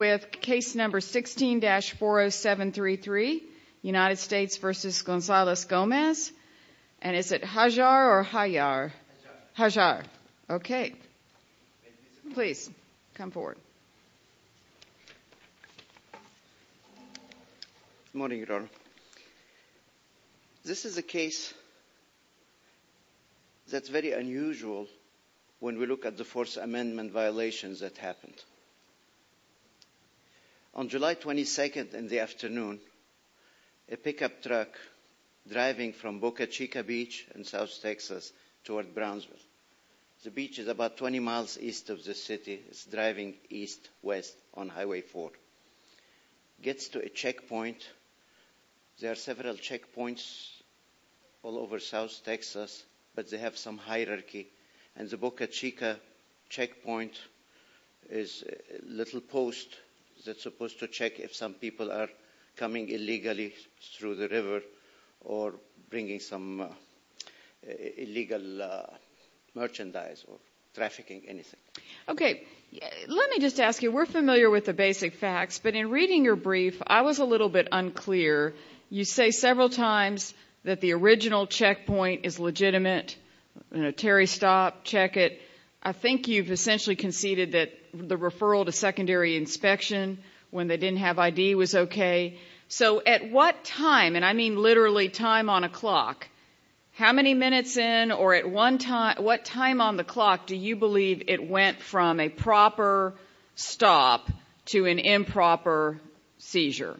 with Case No. 16-40733, United States v. Gonzales-Gomez. And is it Hajar or Hayar? Hajar. Okay. Please, come forward. Good morning, Your Honor. This is a case that's very unusual when we look at the Fourth Amendment violations that happened. On July 22nd in the afternoon, a pickup truck driving from Boca Chica Beach in South Texas toward Brownsville. The beach is about 20 miles east of the city. It's driving east-west on Highway 4. It gets to a checkpoint. There is a little post that's supposed to check if some people are coming illegally through the river or bringing some illegal merchandise or trafficking anything. Okay. Let me just ask you, we're familiar with the basic facts, but in reading your brief, I was a little bit unclear. You say several times that the original checkpoint is legitimate. Terry, stop, check it. I think you've essentially conceded that the referral to secondary inspection when they didn't have ID was okay. So at what time, and I mean literally time on a clock, how many minutes in or at what time on the clock do you believe it went from a proper stop to an improper seizure?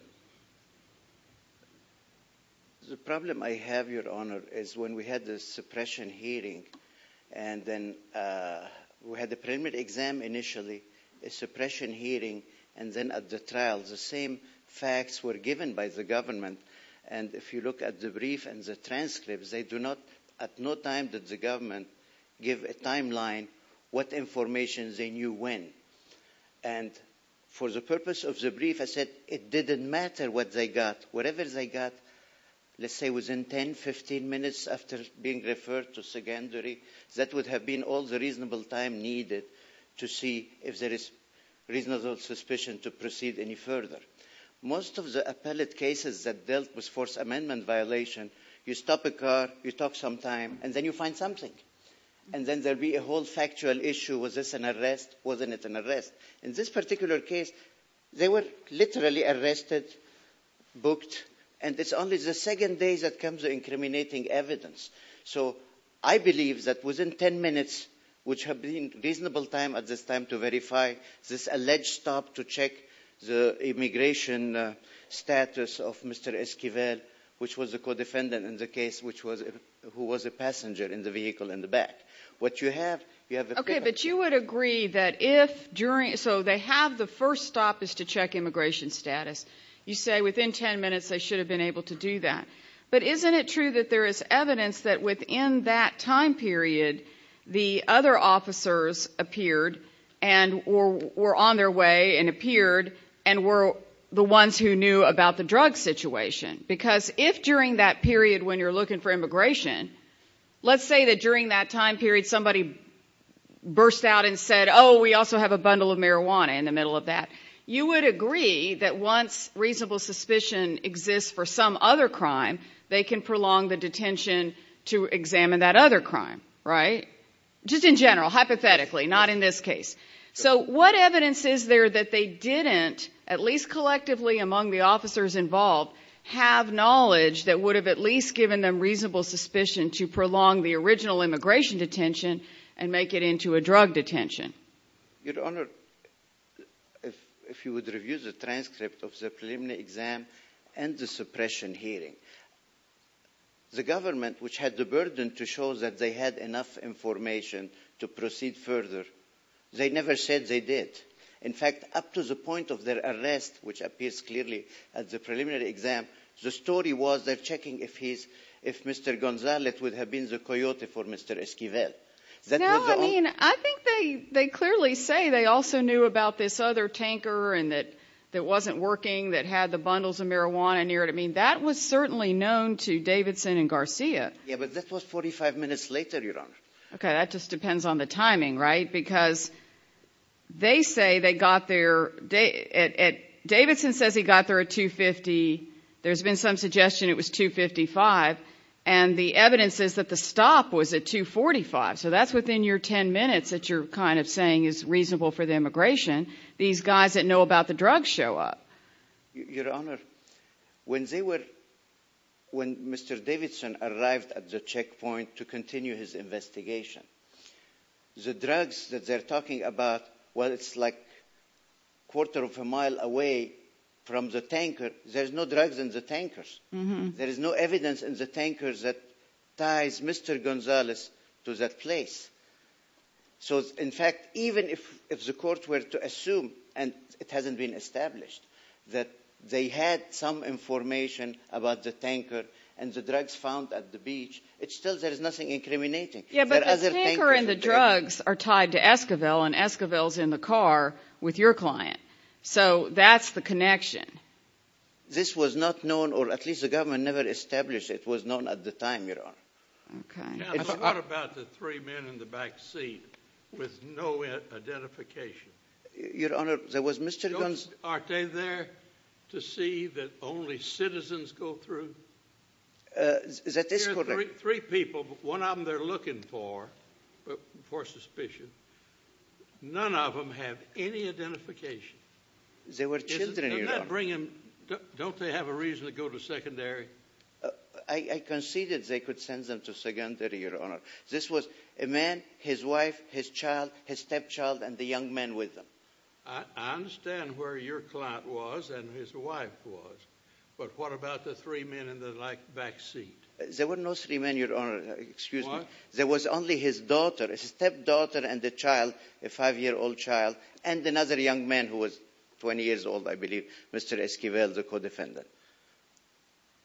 The problem I have, Your Honor, is when we had the suppression hearing, and then we had the preliminary exam initially, a suppression hearing, and then at the trial, the same facts were given by the government. And if you look at the brief and the transcripts, they do not, at no time did the government give a timeline what information they knew when. And for the purpose of the brief, I said it didn't matter what they got. Whatever they got, let's say within 10, 15 minutes after being referred to secondary, that would have been all the reasonable time needed to see if there is reasonable suspicion to proceed any further. Most of the appellate cases that dealt with forced amendment violation, you stop a car, you talk some time, and then you find something. And then there'd be a whole factual issue. Was this an arrest? Wasn't it an arrest? In this particular case, they were literally arrested, booked, and it's only the second day that comes the incriminating evidence. So I believe that within 10 minutes, which have been reasonable time at this time to verify, this alleged stop to check the immigration status of Mr. Esquivel, which was the co-defendant in the case, who was a passenger in the vehicle in the back. What you have, you have the... Okay, but you would agree that if during, so they have the first stop is to check immigration status, you say within 10 minutes, they should have been able to do that. But isn't it true that there is evidence that within that time period, the other officers appeared and were on their way and appeared and were the ones who knew about the drug situation? Because if during that period, when you're looking for immigration, let's say that during that time period, somebody burst out and said, oh, we also have a bundle of marijuana in the middle of that. You would agree that once reasonable suspicion exists for some other crime, they can prolong the detention to examine that other crime, right? Just in general, hypothetically, not in this case. So what evidence is there that they didn't, at least collectively among the officers involved, have knowledge that would have at least given them reasonable suspicion to prolong the original immigration detention and make it into a drug detention? Your Honor, if you would review the transcript of the preliminary exam and the suppression hearing, the government, which had the burden to show that they had enough information to proceed further, they never said they did. In fact, up to the point of their arrest, which appears clearly at the preliminary exam, the story was they're checking if he's, if Mr. Gonzalez would have been the coyote for Mr. Esquivel. No, I mean, I think they, they clearly say they also knew about this other tanker and that it wasn't working, that had the bundles of marijuana near it. I mean, that was certainly known to Davidson and Garcia. Yeah, but that was 45 minutes later, Your Honor. Okay, that just depends on the timing, right? Because they say they got there, Davidson says he got there at 2.50. There's been some suggestion it was 2.55. And the evidence is that the stop was at 2.45. So that's within your 10 minutes that you're kind of saying is reasonable for the immigration. These guys that know about the drugs show up. Your Honor, when they were, when Mr. Davidson arrived at the checkpoint to continue his investigation, the drugs that they're talking about, while it's like quarter of a mile away from the tanker, there's no drugs in the tankers. There is no evidence in the tankers that ties Mr. Gonzalez to that place. So in fact, even if, if the court were to assume, and it hasn't been established, that they had some information about the tanker and the drugs found at the beach, it's still, there is nothing incriminating. Yeah, but the tanker and the drugs are tied to Esquivel and Esquivel's in the car with your client. So that's the connection. This was not known, or at least the government never established it was known at the time, your Honor. Okay. Now, but what about the three men in the back seat with no identification? Your Honor, there was Mr. Gonzalez. Aren't they there to see that only citizens go through? That is correct. There are three people, but one of them they're looking for, for suspicion. None of them have any identification. They were children, your Honor. Doesn't that bring them, don't they have a reason to go to secondary? I conceded they could send them to secondary, your Honor. This was a man, his wife, his child, his stepchild, and the young man with them. I understand where your client was and his wife was, but what about the three men in the back seat? There were no three men, your Honor, excuse me. What? There was only his daughter, his stepdaughter and the child, a five-year-old child, and another young man who was 20 years old, I believe, Mr. Esquivel, the co-defendant.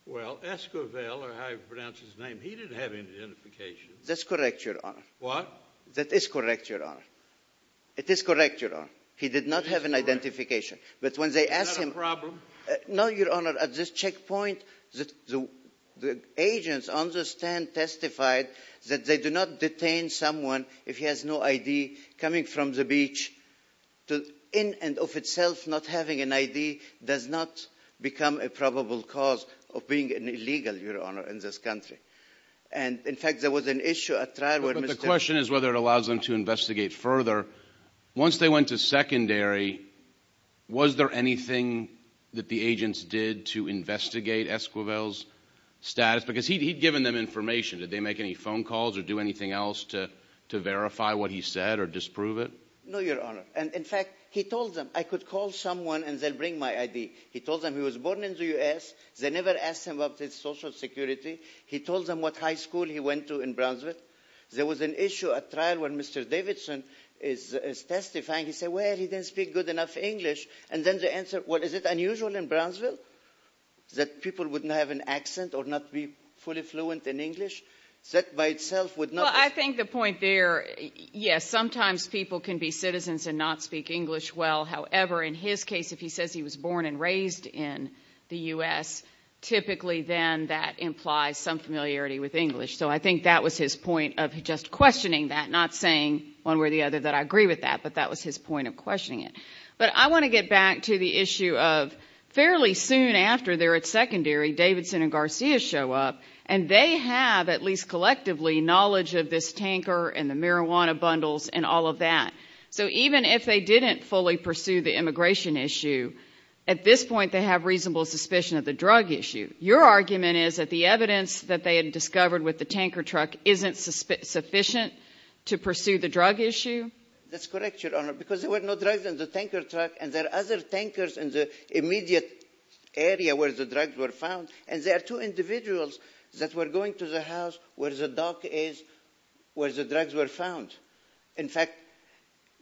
Well, Esquivel, or however you pronounce his name, he didn't have any identification. That's correct, your Honor. What? That is correct, your Honor. It is correct, your Honor. He did not have an identification, but when they asked him... Is that a problem? No, your Honor. At this checkpoint, the agents on the stand testified that they do not detain someone if he has no ID coming from the beach. In and of itself, not having an ID does not become a probable cause of being illegal, your Honor, in this country. And, in fact, there was an issue at trial where Mr. Esquivel... But the question is whether it allows them to investigate further. Once they went to secondary, was there anything that the agents did to investigate Esquivel's status? Because he'd given them information. Did they make any phone calls or do anything else to verify what he said or disprove it? No, your Honor. And, in fact, he told them, I could call someone and they'll bring my ID. He told them he was born in the U.S. They never asked him about his Social Security. He told them what high school he went to in Brownsville. There was an issue at trial when Mr. Davidson is testifying. He said, well, he doesn't speak good enough English. And then they answered, well, is it unusual in Brownsville that people wouldn't have an accent or not be fully fluent in English? That, by itself, would not... Well, I think the point there, yes, sometimes people can be citizens and not speak English well. However, in his case, if he says he was born and raised in the U.S., typically then that implies some familiarity with English. So I think that was his point of just questioning that, not saying one way or the other that I agree with that, but that was his point of questioning it. But I want to get back to the issue of fairly soon after they're at secondary, Davidson and Garcia show up and they have, at least collectively, knowledge of this tanker and the marijuana bundles and all of that. So even if they didn't fully pursue the immigration issue, at this point they have reasonable suspicion of the drug issue. Your argument is that the evidence that they had discovered with the tanker truck isn't sufficient to pursue the drug issue? That's correct, Your Honor, because there were no drugs in the tanker truck and there are other tankers in the immediate area where the drugs were found. And there are two individuals that were going to the house where the dock is where the drugs were found. In fact,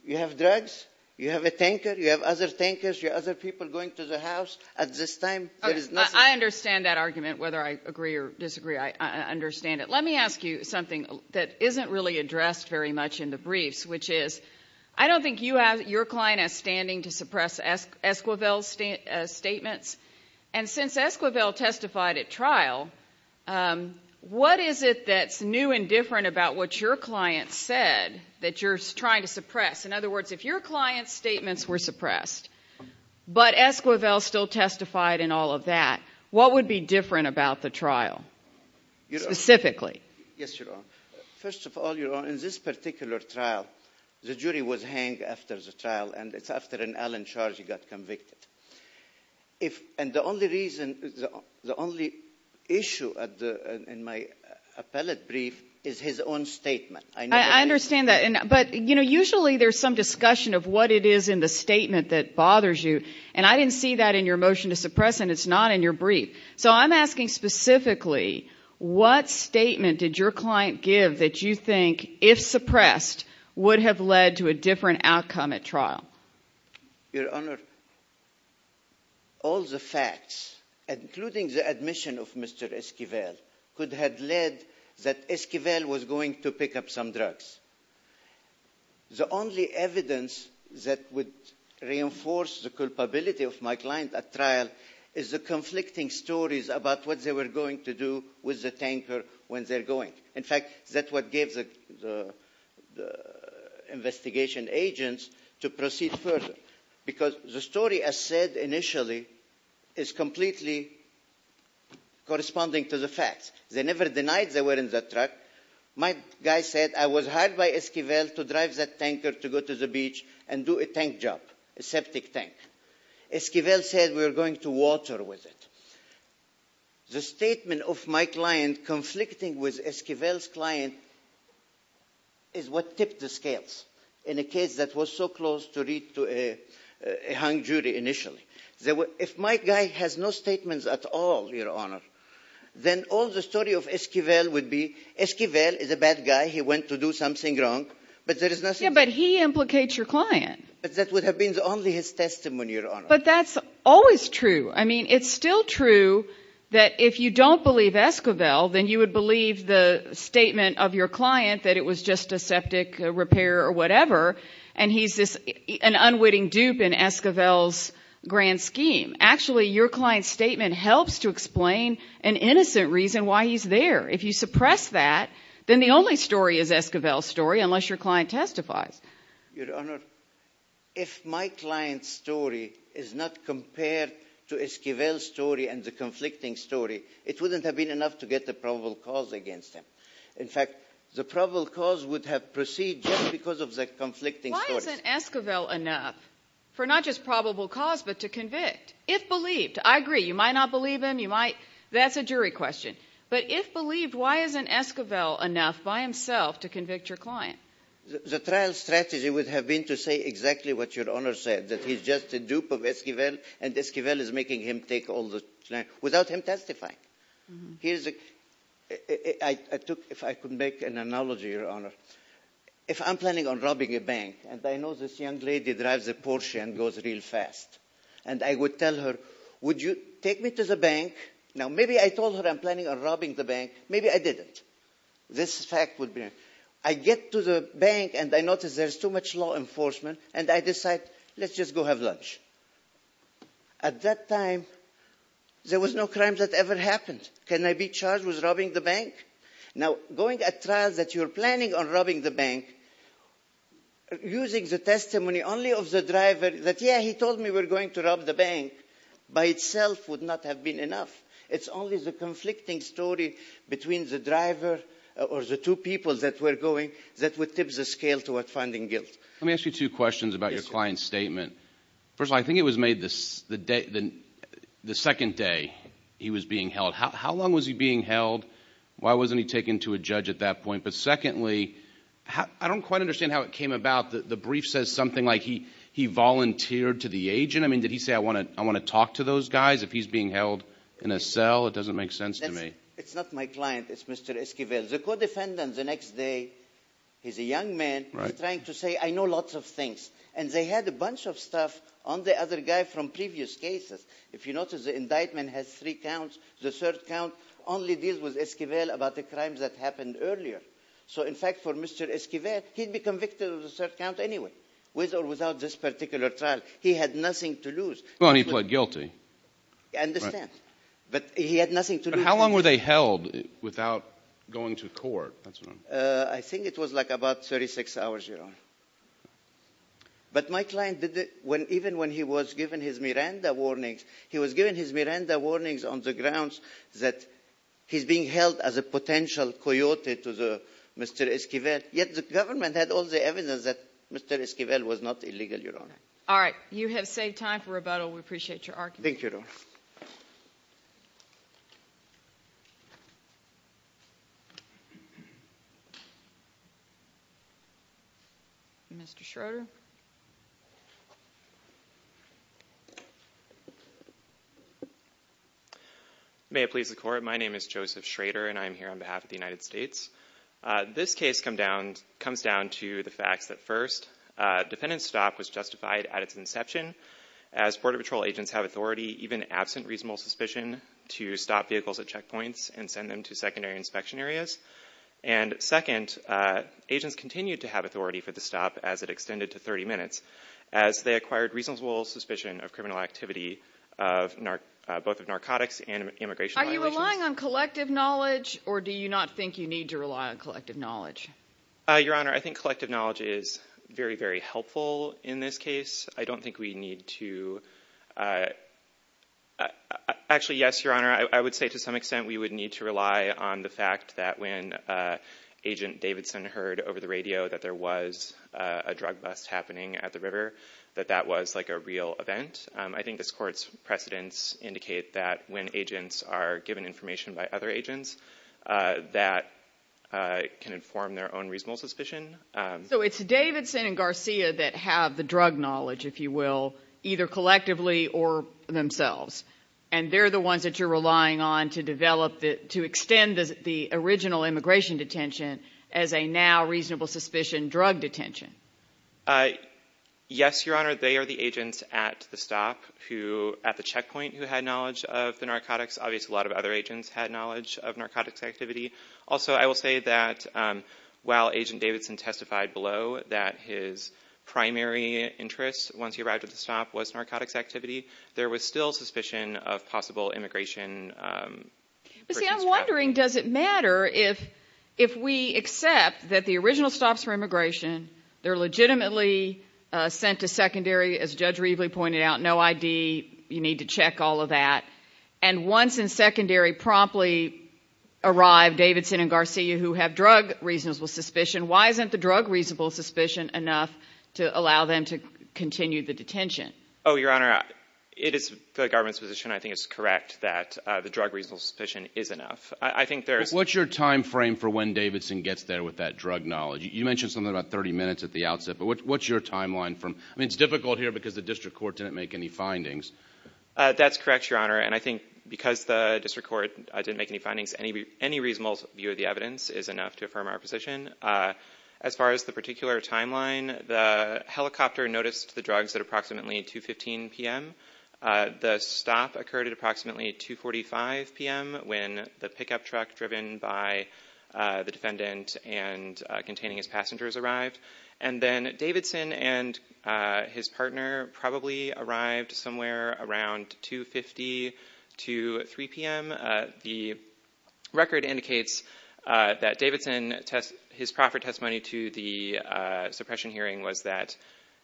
you have drugs, you have a tanker, you have other tankers, you have other people going to the house. At this time, there is nothing. I understand that argument, whether I agree or disagree. I understand it. Let me ask you something that isn't really addressed very much in the briefs, which is, I don't think you have your client as standing to suppress Esquivel's statements. And since Esquivel testified at trial, what is it that's new and different about what your client said that you're trying to suppress? In other words, if your client's statements were suppressed, but Esquivel still testified in all of that, what would be different about the trial, specifically? Yes, Your Honor. First of all, Your Honor, in this particular trial, the jury was hanged after the trial, and it's after an Allen charge he got convicted. And the only reason, the only issue in my appellate brief is his own statement. I understand that. But usually there's some discussion of what it is in the statement that bothers you. And I didn't see that in your motion to suppress, and it's not in your brief. So I'm asking specifically, what statement did your client give that you think, if suppressed, would have led to a different outcome at trial? Your Honor, all the facts, including the admission of Mr. Esquivel, could have led that Esquivel was going to pick up some drugs. The only evidence that would reinforce the culpability of my client at trial is the conflicting stories about what they were going to do with the investigation agents to proceed further. Because the story I said initially is completely corresponding to the facts. They never denied they were in that truck. My guy said, I was hired by Esquivel to drive that tanker to go to the beach and do a tank job, a septic tank. Esquivel said we were going to water with it. The statement of my client conflicting with Esquivel's client is what tipped the scales in a case that was so close to read to a hung jury initially. If my guy has no statements at all, Your Honor, then all the story of Esquivel would be, Esquivel is a bad guy, he went to do something wrong, but there is nothing... Yeah, but he implicates your client. But that would have been only his testimony, Your Honor. But that's always true. I mean, it's still true that if you don't believe Esquivel, then you would believe the statement of your client that it was just a septic repair or whatever, and he's an unwitting dupe in Esquivel's grand scheme. Actually, your client's statement helps to explain an innocent reason why he's there. If you suppress that, then the only story is Esquivel's story, unless your client testifies. Your Honor, if my client's story is not compared to Esquivel's story and the conflicting story, it wouldn't have been enough to get a probable cause against him. In fact, the probable cause would have proceeded just because of the conflicting story. Why isn't Esquivel enough for not just probable cause, but to convict? If believed, I agree, you might not believe him, you might... That's a jury question. But if believed, why isn't Esquivel enough by himself to convict your client? The trial strategy would have been to say exactly what Your Honor said, that he's just a dupe of Esquivel, and Esquivel is making him take all the... without him testifying. If I could make an analogy, Your Honor, if I'm planning on robbing a bank, and I know this young lady drives a Porsche and goes real fast, and I would tell her, would you take me to the bank? Now, maybe I told her I'm planning on robbing the bank, maybe I didn't. This fact would be... I get to the bank, and I notice there's too much law enforcement, and I decide, let's just go have lunch. At that time, there was no crime that ever happened. Can I be charged with robbing the bank? Now, going at trials that you're planning on robbing the bank, using the testimony only of the driver, that yeah, he told me we're going to rob the bank, by itself would not have been enough. It's only the conflicting story between the driver or the two people that were going that would tip the scale toward finding guilt. Let me ask you two questions about your client's statement. First of all, I think it was made the second day he was being held. How long was he being held? Why wasn't he taken to a judge at that point? But secondly, I don't quite understand how it came about that the brief says something like he volunteered to the agent? I mean, did he say, I want to talk to those guys if he's being held in a cell? It doesn't make sense to me. It's not my client. It's Mr. Esquivel. The co-defendant, the next day, he's a young man, he's trying to say, I know lots of things. And they had a bunch of stuff on the other guy from previous cases. If you notice, the indictment has three counts. The third count only deals with Esquivel about the crimes that happened earlier. So in fact, for Mr. Esquivel, he'd be convicted of the third count anyway, with or without this particular trial. He had nothing to lose. Well, and he pled guilty. I understand. But he had nothing to lose. But how long were they held without going to court? I think it was like about 36 hours, Your Honor. But my client did it even when he was given his Miranda warnings. He was given his Miranda warnings on the grounds that he's being held as a potential coyote to Mr. Esquivel. Yet the government had all the evidence that Mr. Esquivel was not illegal, Your Honor. All right. You have saved time for rebuttal. We appreciate your argument. Thank you, Your Honor. Mr. Schroeder? May it please the Court, my name is Joseph Schroeder, and I am here on behalf of the United States. This case comes down to the fact that first, defendant's stop was justified at its inception, as Border Patrol agents have authority, even absent reasonable suspicion, to stop vehicles at checkpoints and send them to secondary inspection areas. And second, agents continued to have authority for the stop as it extended to 30 minutes, as they acquired reasonable suspicion of criminal activity, both of narcotics and immigration violations. Are you relying on collective knowledge, or do you not think you need to rely on collective knowledge? Your Honor, I think collective knowledge is very, very helpful in this case. I don't think we need to... Actually, yes, Your Honor, I would say to some extent we would need to rely on the fact that when Agent Davidson heard over the radio that there was a drug bust happening at the river, that that was like a real event. I think this Court's precedents indicate that when agents are given information by other agents, that can inform their own reasonable suspicion. So it's Davidson and Garcia that have the drug knowledge, if you will, either collectively or themselves, and they're the ones that you're relying on to develop, to extend the original immigration detention as a now reasonable suspicion drug detention. Yes, Your Honor, they are the agents at the stop who, at the checkpoint, who had knowledge of the narcotics. Obviously, a lot of other agents had knowledge of narcotics activity. Also, I will say that while Agent Davidson testified below that his primary interest once he arrived at the stop was narcotics activity, there was still suspicion of possible immigration... But see, I'm wondering, does it matter if we accept that the original stops for immigration, they're legitimately sent to secondary, as Judge Rievely pointed out, no ID, you need to check all of that, and once in secondary promptly arrive Davidson and Garcia who have drug reasonable suspicion, why isn't the drug reasonable suspicion enough to allow them to continue the detention? Oh, Your Honor, it is the government's position, I think it's correct, that the drug reasonable suspicion is enough. I think there's... What's your time frame for when Davidson gets there with that drug knowledge? You mentioned something about 30 minutes at the outset, but what's your timeline? I mean, it's difficult here because the district court didn't make any findings. That's correct, Your Honor, and I think because the district court didn't make any findings, any reasonable view of the evidence is enough to affirm our position. As far as the particular timeline, the helicopter noticed the drugs at approximately 2.15 p.m. The stop occurred at approximately 2.45 p.m. when the pickup truck driven by the defendant and containing his passengers arrived, and then Davidson and his partner probably arrived somewhere around 2.50 to 3.00 p.m. The record indicates that Davidson, his proffered testimony to the suppression hearing was that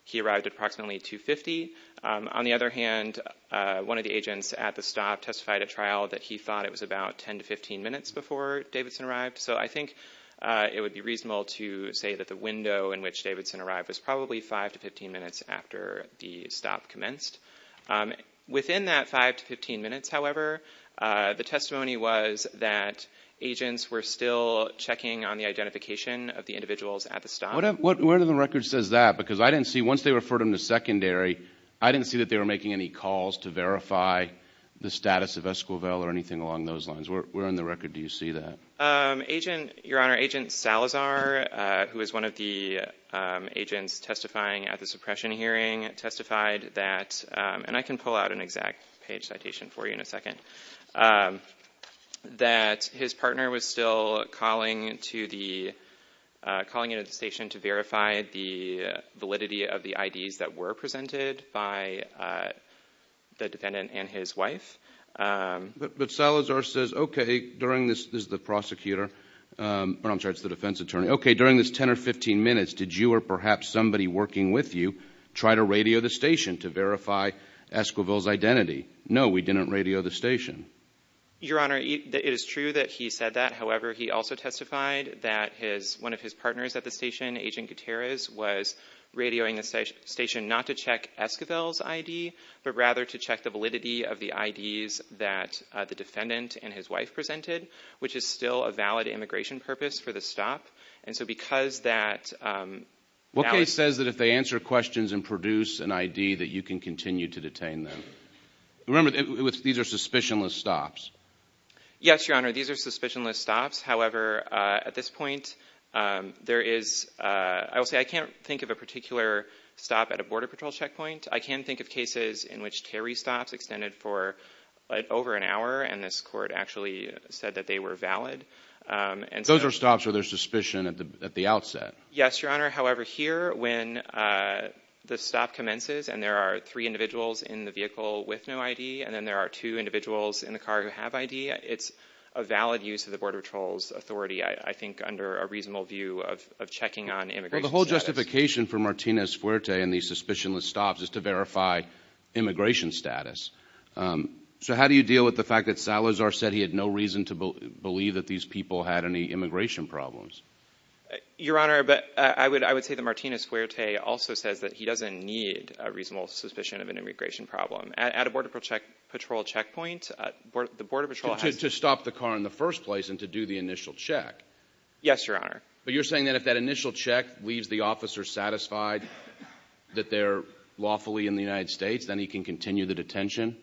he arrived at approximately 2.50. On the other hand, one of the agents at the stop testified at trial that he thought it was about 10 to 15 minutes before Davidson arrived, so I think it would be reasonable to say that the window in which Davidson arrived was probably 5 to 15 minutes after the stop commenced. Within that 5 to 15 minutes, however, the testimony was that agents were still checking on the identification of the individuals at the stop. Where did the record say that? Because I didn't see, once they referred him to secondary, I didn't see that they were making any calls to verify the status of Esquivel or anything along those lines. Where in the record do you see that? Your Honor, Agent Salazar, who is one of the agents testifying at the suppression hearing, testified that, and I can pull out an exact page citation for you in a second, that his partner was still calling into the station to verify the validity of the IDs that were presented by the defendant and his wife. But Salazar says, okay, during this 10 or 15 minutes, did you or perhaps somebody working with you try to radio the station to verify Esquivel's identity? No, we didn't radio the station. Your Honor, it is true that he said that. However, he also testified that one of his to check Esquivel's ID, but rather to check the validity of the IDs that the defendant and his wife presented, which is still a valid immigration purpose for the stop. What case says that if they answer questions and produce an ID that you can continue to detain them? Remember, these are suspicionless stops. Yes, Your Honor, these are suspicionless stops. However, at this point, I will say I can't think of a particular stop at a Border Patrol checkpoint. I can think of cases in which Terry stops extended for over an hour, and this court actually said that they were valid. Those are stops where there's suspicion at the outset. Yes, Your Honor. However, here, when the stop commences and there are three individuals in the vehicle with no ID, and then there are two individuals in the car who have ID, it's a valid use of the Border Patrol's authority, I think, under a reasonable view of checking on immigration status. Well, the whole justification for Martinez-Fuerte and these suspicionless stops is to verify immigration status. So how do you deal with the fact that Salazar said he had no reason to believe that these people had any immigration problems? Your Honor, I would say that Martinez-Fuerte also says that he doesn't need a reasonable suspicion of an immigration problem. At a Border Patrol checkpoint, the Border Patrol has... To stop the car in the first place and to do the initial check. Yes, Your Honor. But you're saying that if that initial check leaves the officer satisfied that they're lawfully in the United States, then he can continue the detention?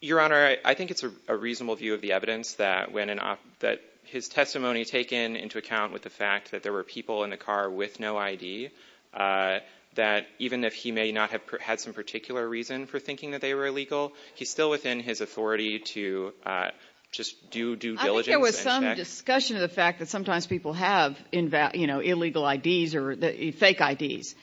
Your Honor, I think it's a reasonable view of the evidence that when an officer – that his testimony taken into account with the fact that there were people in the car with no ID, that even if he may not have had some particular reason for thinking that they were illegal, he's still within his authority to just do due diligence and check. But there's some discussion of the fact that sometimes people have, you know, illegal IDs or fake IDs.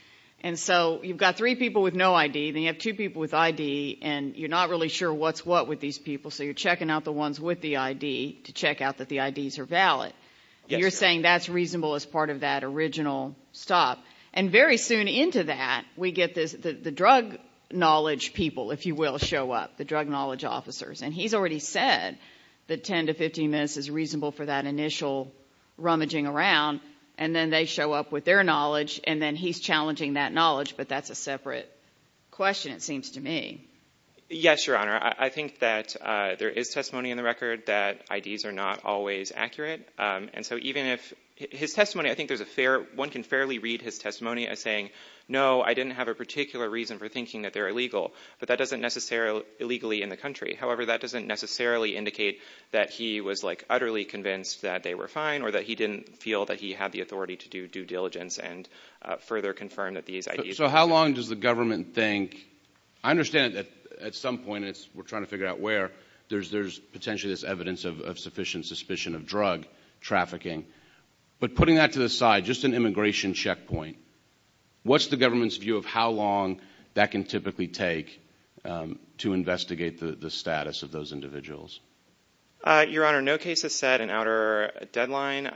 And so you've got three people with no ID, then you have two people with ID, and you're not really sure what's what with these people, so you're checking out the ones with the ID to check out that the IDs are valid. Yes, Your Honor. And you're saying that's reasonable as part of that original stop. And very soon into that, we get the drug knowledge people, if you will, show up, the drug knowledge officers. And he's already said that 10 to 15 minutes is reasonable for that initial rummaging around, and then they show up with their knowledge, and then he's challenging that knowledge. But that's a separate question, it seems to me. Yes, Your Honor. I think that there is testimony in the record that IDs are not always accurate. And so even if – his testimony, I think there's a fair – one can fairly read his testimony as saying, no, I didn't have a particular reason for thinking that they're That doesn't necessarily indicate that he was like utterly convinced that they were fine or that he didn't feel that he had the authority to do due diligence and further confirm that these IDs – So how long does the government think – I understand that at some point, we're trying to figure out where, there's potentially this evidence of sufficient suspicion of drug trafficking. But putting that to the side, just an immigration checkpoint, what's the of those individuals? Your Honor, no case has set an outer deadline.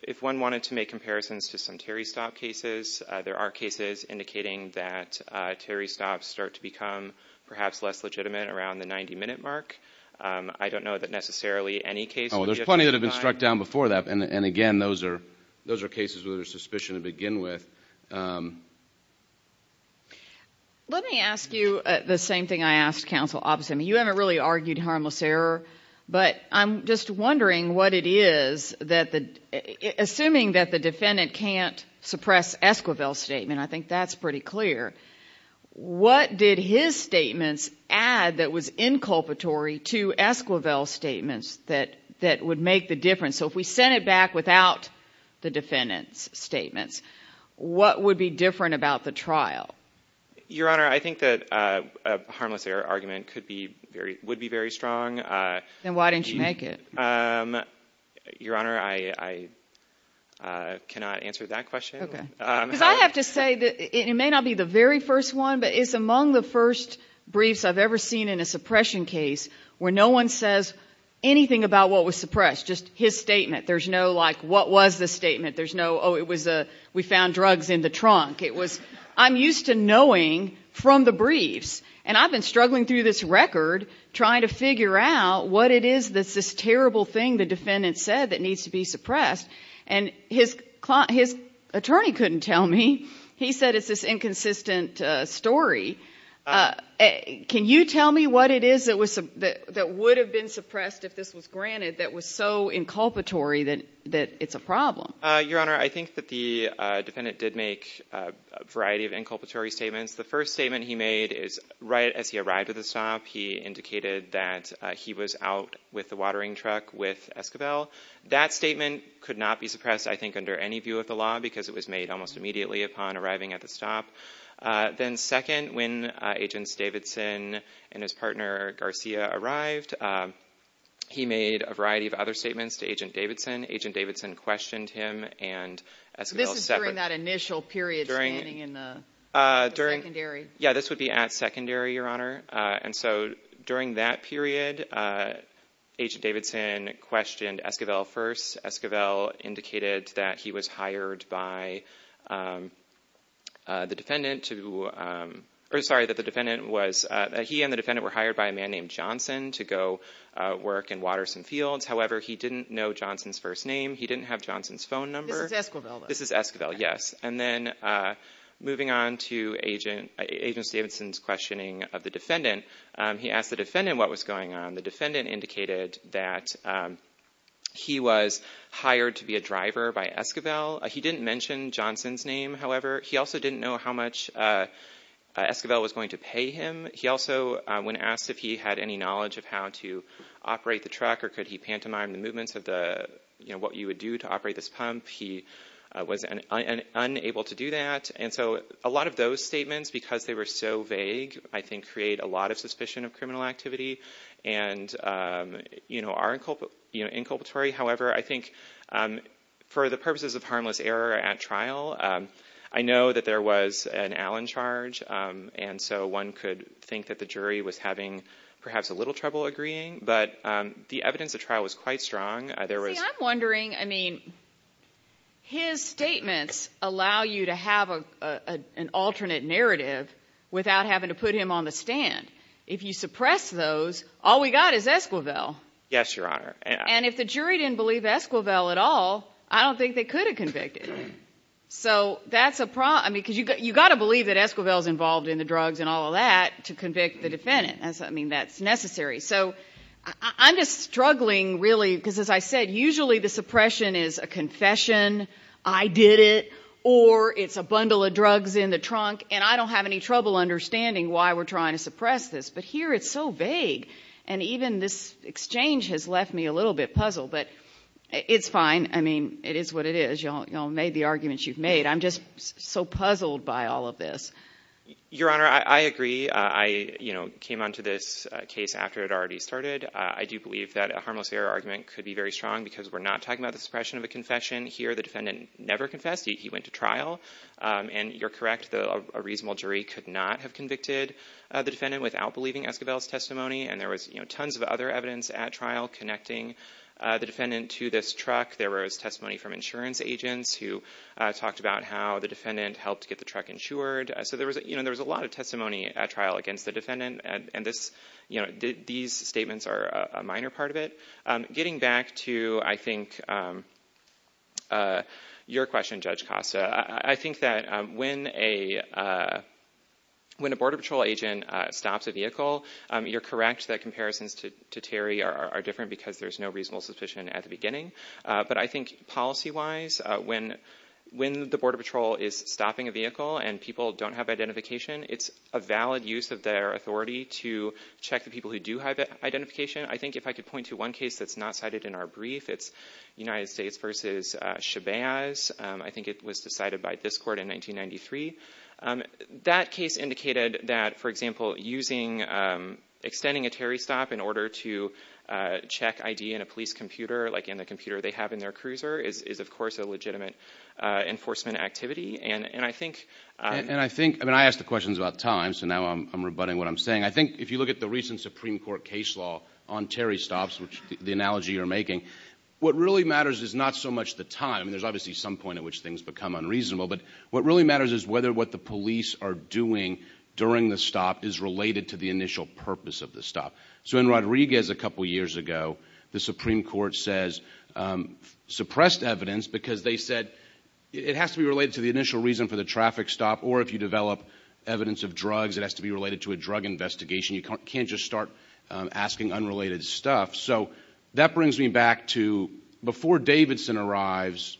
If one wanted to make comparisons to some Terry Stott cases, there are cases indicating that Terry Stott start to become perhaps less legitimate around the 90-minute mark. I don't know that necessarily any case would be – Oh, there's plenty that have been struck down before that. And again, those are cases where there's suspicion to begin with. Let me ask you the same thing I asked Counsel Oppenheimer. You haven't really argued harmless error, but I'm just wondering what it is, assuming that the defendant can't suppress Esquivel's statement, I think that's pretty clear. What did his statements add that was inculpatory to Esquivel's statements that would make the difference? So if we sent it back without the defendant's statements, what would be different about the trial? Your Honor, I think that a harmless error argument would be very strong. Then why didn't you make it? Your Honor, I cannot answer that question. Because I have to say, it may not be the very first one, but it's among the first briefs I've ever seen in a suppression case where no one says anything about what was suppressed, just his statement. There's no, like, what was the statement? There's no, oh, it was a, we found drugs in the trunk. It was, I'm used to knowing from the briefs. And I've been struggling through this record trying to figure out what it is that's this terrible thing the defendant said that needs to be suppressed. And his attorney couldn't tell me. He said it's this inconsistent story. Can you tell me what it is that would have been suppressed if this was granted that was so inculpatory that it's a problem? Your Honor, I think that the defendant did make a variety of inculpatory statements. The first statement he made is right as he arrived at the stop, he indicated that he was out with the watering truck with Escobel. That statement could not be suppressed, I think, under any view of the law because it was made almost immediately upon arriving at the stop. Then second, when Agents Davidson and his partner Garcia arrived, he made a variety of other statements to Agent Davidson. Agent Davidson questioned him and Escobel separate. This is during that initial period standing in the secondary? Yeah, this would be at secondary, Your Honor. And so during that period, Agent Davidson questioned Escobel first. Escobel indicated that he and the defendant were hired by a man named Johnson to go work in Waterson Fields. However, he didn't know Johnson's first name. He didn't have Johnson's phone number. This is Escobel, then? This is Escobel, yes. And then moving on to Agent Davidson's questioning of the defendant, he asked the defendant what was going on. The defendant indicated that he was hired to be a driver by Escobel. He didn't mention Johnson's name, however. He also didn't know how much Escobel was going to pay him. He also, when asked if he had any knowledge of how to operate the truck or could he pantomime the movements of what you would do to operate this pump, he was unable to do that. And so a lot of those statements, because they were so vague, I think create a lot of suspicion of criminal activity and are inculpatory. However, I think for the purposes of harmless error at trial, I know that there was an Allen charge, and so one could think that the jury was having perhaps a little trouble agreeing. But the evidence at trial was quite strong. There was... See, I'm wondering, I mean, his statements allow you to have an alternate narrative without having to put him on the stand. If you suppress those, all we got is Escobel. Yes, Your Honor. And if the jury didn't believe Escobel at all, I don't think they could have convicted him. So that's a problem, because you've got to believe that Escobel's involved in the drugs and all of that to convict the defendant. I mean, that's necessary. So I'm just struggling really, because as I said, usually the suppression is a confession, I did it, or it's a bundle of drugs in the trunk, and I don't have any trouble understanding why we're trying to suppress this. But here it's so vague, and even this exchange has left me a little bit puzzled. But it's fine. I mean, it is what it is. Y'all made the arguments you've made. I'm just so puzzled by all of this. Your Honor, I agree. I came onto this case after it already started. I do believe that a harmless error argument could be very strong, because we're not talking about the suppression of a confession here. The defendant never confessed. He went to trial. And you're correct, a reasonable jury could not have convicted the defendant without believing Escobel's testimony. And there was tons of other evidence at trial connecting the defendant to this truck. There was testimony from insurance agents who talked about how the defendant helped get the truck insured. So there was a lot of testimony at trial against the defendant, and these statements are a minor part of it. Getting back to, I think, your question, Judge Costa, I think that when a Border Patrol agent stops a vehicle, you're correct that comparisons to Terry are different because there's no reasonable suspicion at the beginning. But I think policy-wise, when the Border Patrol is stopping a vehicle and people don't have identification, it's a valid use of their authority to check the people who do have identification. I think if I could point to one case that's not cited in our brief, it's United States v. Chavez. I think it was decided by this Court in 1993. That case indicated that, for example, extending a Terry stop in order to check ID in a police computer like in the computer they have in their cruiser is, of course, a legitimate enforcement activity. I asked the questions about time, so now I'm rebutting what I'm saying. I think if you look at the recent Supreme Court case law on Terry stops, the analogy you're making, what really matters is not so much the time. There's obviously some point at which things become unreasonable, but what really matters is whether what the police are doing during the stop is related to the initial purpose of the stop. In Rodriguez, a couple of years ago, the Supreme Court suppressed evidence because they said it has to be related to the initial reason for the traffic stop, or if you develop evidence of drugs, it has to be related to a drug investigation. You can't just start asking unrelated stuff. That brings me back to, before Davidson arrives,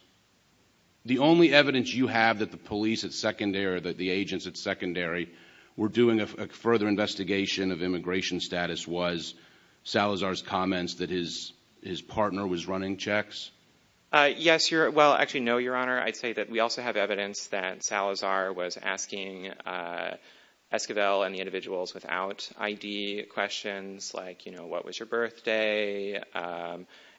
the only evidence you have that the agents at Secondary were doing a further investigation of immigration status was Salazar's comments that his partner was running checks? Yes, well, actually no, Your Honor. I'd say that we also have evidence that Salazar was asking Esquivel and the individuals without ID questions like, you know, what was your birthday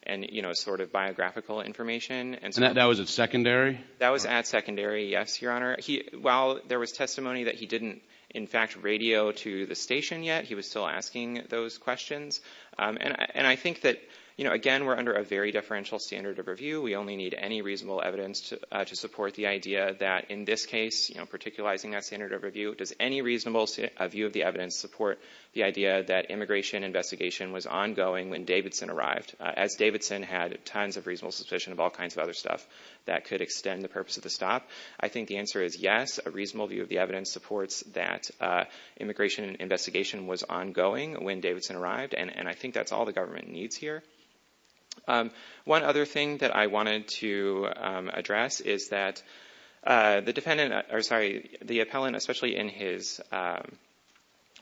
and, you know, sort of biographical information. And that was at Secondary? That was at Secondary, yes, Your Honor. While there was testimony that he didn't, in fact, radio to the station yet, he was still asking those questions. And I think that, you know, again, we're under a very differential standard of review. We only need any reasonable evidence to support the idea that in this case, you know, particularizing that standard of review, does any reasonable view of the evidence support the idea that immigration investigation was ongoing when Davidson arrived, as Davidson had tons of reasonable suspicion of all kinds of other stuff that could extend the purpose of the stop? I think the answer is yes, a reasonable view of the evidence supports that immigration investigation was ongoing when Davidson arrived, and I think that's all the government needs here. One other thing that I wanted to address is that the defendant, or sorry, the appellant, especially in his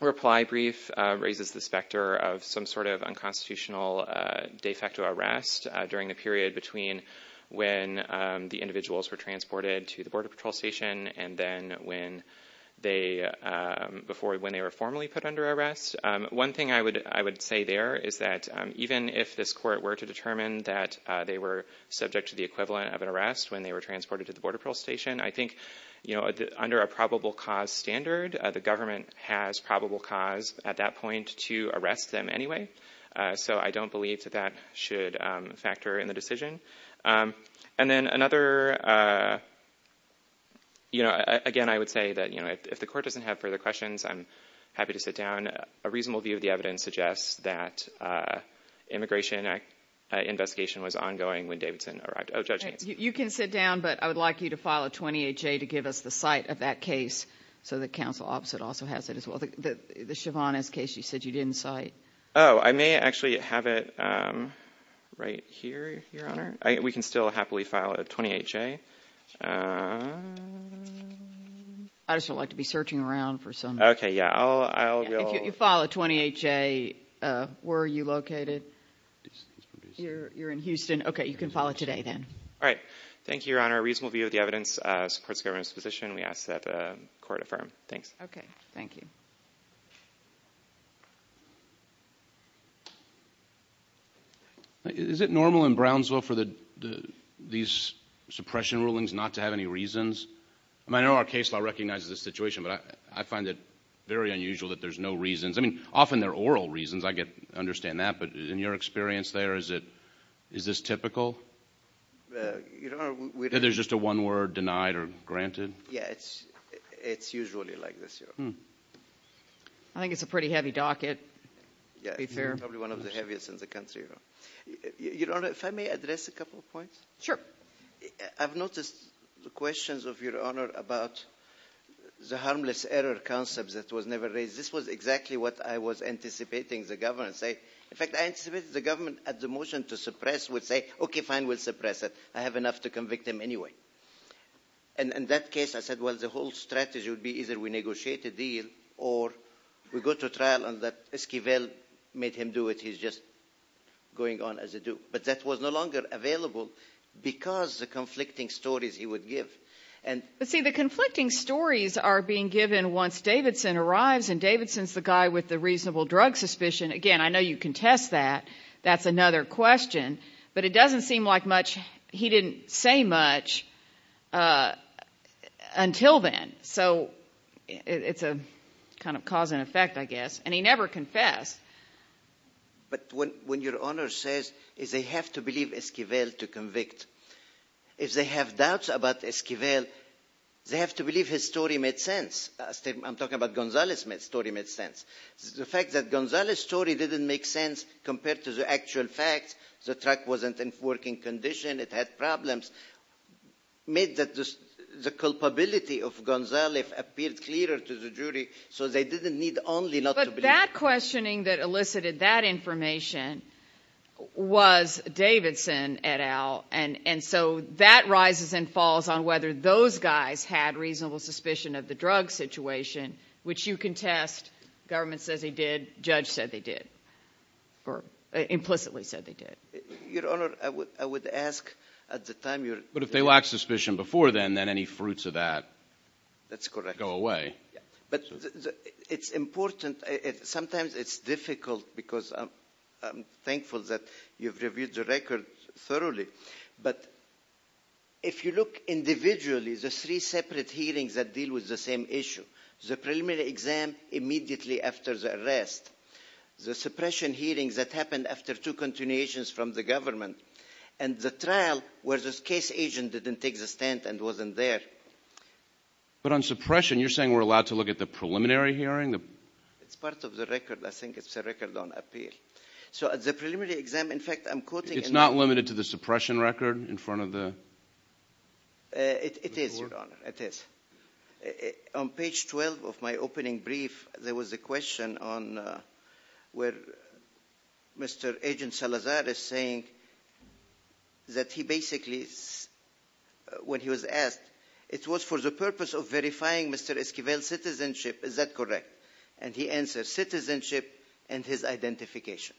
reply brief, raises the specter of some sort of unconstitutional de when the individuals were transported to the Border Patrol station, and then when they were formally put under arrest. One thing I would say there is that even if this court were to determine that they were subject to the equivalent of an arrest when they were transported to the Border Patrol station, I think, you know, under a probable cause standard, the government has probable cause at that point to arrest them anyway. So I don't believe that that should factor in the decision. And then another, you know, again, I would say that, you know, if the court doesn't have further questions, I'm happy to sit down. A reasonable view of the evidence suggests that immigration investigation was ongoing when Davidson arrived. Oh, Judge Nance. You can sit down, but I would like you to file a 28-J to give us the site of that case so that counsel opposite also has it as well. The Shyvana's case you said you didn't cite. Oh, I may actually have it right here, Your Honor. We can still happily file a 28-J. I just don't like to be searching around for something. Okay. Yeah. I'll... If you file a 28-J, where are you located? You're in Houston. Okay. You can file it today then. All right. Thank you, Your Honor. A reasonable view of the evidence supports the government's position. We ask that the court affirm. Thanks. Okay. Thank you. Is it normal in Brownsville for these suppression rulings not to have any reasons? I mean, I know our case law recognizes the situation, but I find it very unusual that there's no reasons. I mean, often there are oral reasons. I understand that, but in your experience there, is this typical? There's just a one word, denied or granted? Yeah. It's usually like this, Your Honor. Hmm. I think it's a pretty heavy docket. Yeah. It's probably one of the heaviest in the country. Your Honor, if I may address a couple of points. Sure. I've noticed the questions of Your Honor about the harmless error concepts that was never raised. This was exactly what I was anticipating the government say. In fact, I anticipated the government at the motion to suppress would say, okay, fine, we'll suppress it. I have enough to convict him anyway. And in that case, I said, well, the whole strategy would be either negotiate a deal or we go to trial and Esquivel made him do it. He's just going on as a Duke. But that was no longer available because the conflicting stories he would give. But see, the conflicting stories are being given once Davidson arrives, and Davidson's the guy with the reasonable drug suspicion. Again, I know you contest that. That's another question. But it doesn't seem like much, he didn't say much until then. So it's a kind of cause and effect, I guess. And he never confessed. But when Your Honor says they have to believe Esquivel to convict, if they have doubts about Esquivel, they have to believe his story made sense. I'm talking about Gonzales' story made sense. The fact that Gonzales' story didn't make sense compared to the actual facts, the truck wasn't in working condition, it had problems, made the culpability of Gonzales appear clearer to the jury so they didn't need only not to believe. But that questioning that elicited that information was Davidson et al. And so that rises and falls on whether those guys had reasonable suspicion of the drug situation, which you contest, government says they did, judge said they did, or implicitly said they did. Your Honor, I would ask at the time... But if they lacked suspicion before then, then any fruits of that go away. That's correct. But it's important, sometimes it's difficult because I'm thankful that you've reviewed the record thoroughly. But if you look individually, the three separate hearings that deal with the same issue, the preliminary exam immediately after the arrest, the suppression hearings that happened after two continuations from the government, and the trial where this case agent didn't take the stand and wasn't there. But on suppression, you're saying we're allowed to look at the preliminary hearing? It's part of the record. I think it's a record on appeal. So at the preliminary exam, in fact, I'm quoting... It's not limited to the suppression record in front of the... It is, Your Honor, it is. On page 12 of my opening brief, there was a question on where Mr. Agent Salazar is saying that he basically, when he was asked, it was for the purpose of verifying Mr. Esquivel's citizenship. Is that correct? And he answered, citizenship and his identification.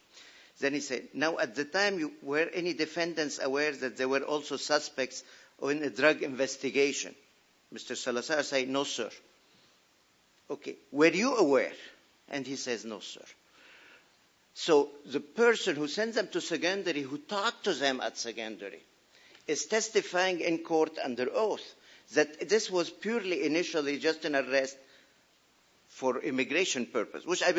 Then he said, now at the time, you were any defendants aware that there were also suspects in the drug investigation? Mr. Salazar said, no, sir. Okay. Were you aware? And he says, no, sir. So the person who sent them to secondary, who talked to them at secondary, is testifying in court under oath that this was purely initially just an arrest for immigration purpose, which I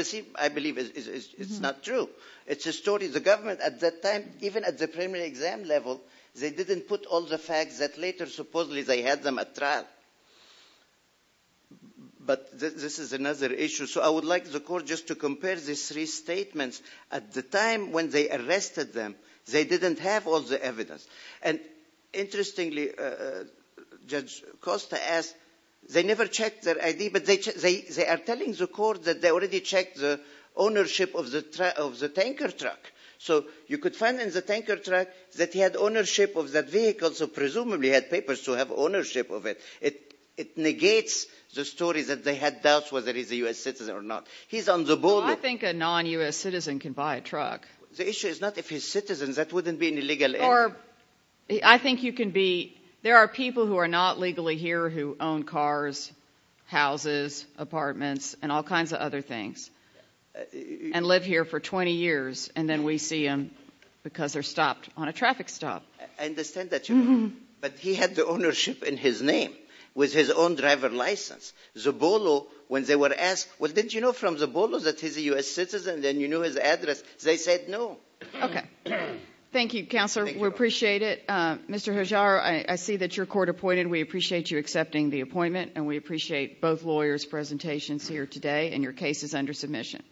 believe is not true. It's a story. The government at that time, even at the preliminary exam level, they didn't put all the facts that later, supposedly, they had them at trial. But this is another issue. So I would like the court just to compare these three statements at the time when they arrested them. They didn't have all the evidence. And interestingly, Judge Costa asked, they never checked their ID, but they are telling the court that they already checked the ownership of the tanker truck. So you could find in the tanker that he had ownership of that vehicle, so presumably had papers to have ownership of it. It negates the story that they had doubts whether he's a U.S. citizen or not. He's on the border. Well, I think a non-U.S. citizen can buy a truck. The issue is not if he's a citizen. That wouldn't be an illegal entry. I think you can be, there are people who are not legally here who own cars, houses, apartments, and all kinds of other things, and live here for 20 years. And then we see them because they're stopped on a traffic stop. I understand that. But he had the ownership in his name with his own driver's license. Zobolo, when they were asked, well, didn't you know from Zobolo that he's a U.S. citizen? Then you knew his address. They said no. Okay. Thank you, Counselor. We appreciate it. Mr. Hajar, I see that your court appointed. We appreciate you accepting the appointment, and we appreciate both lawyers' presentations here today, and your case is under submission.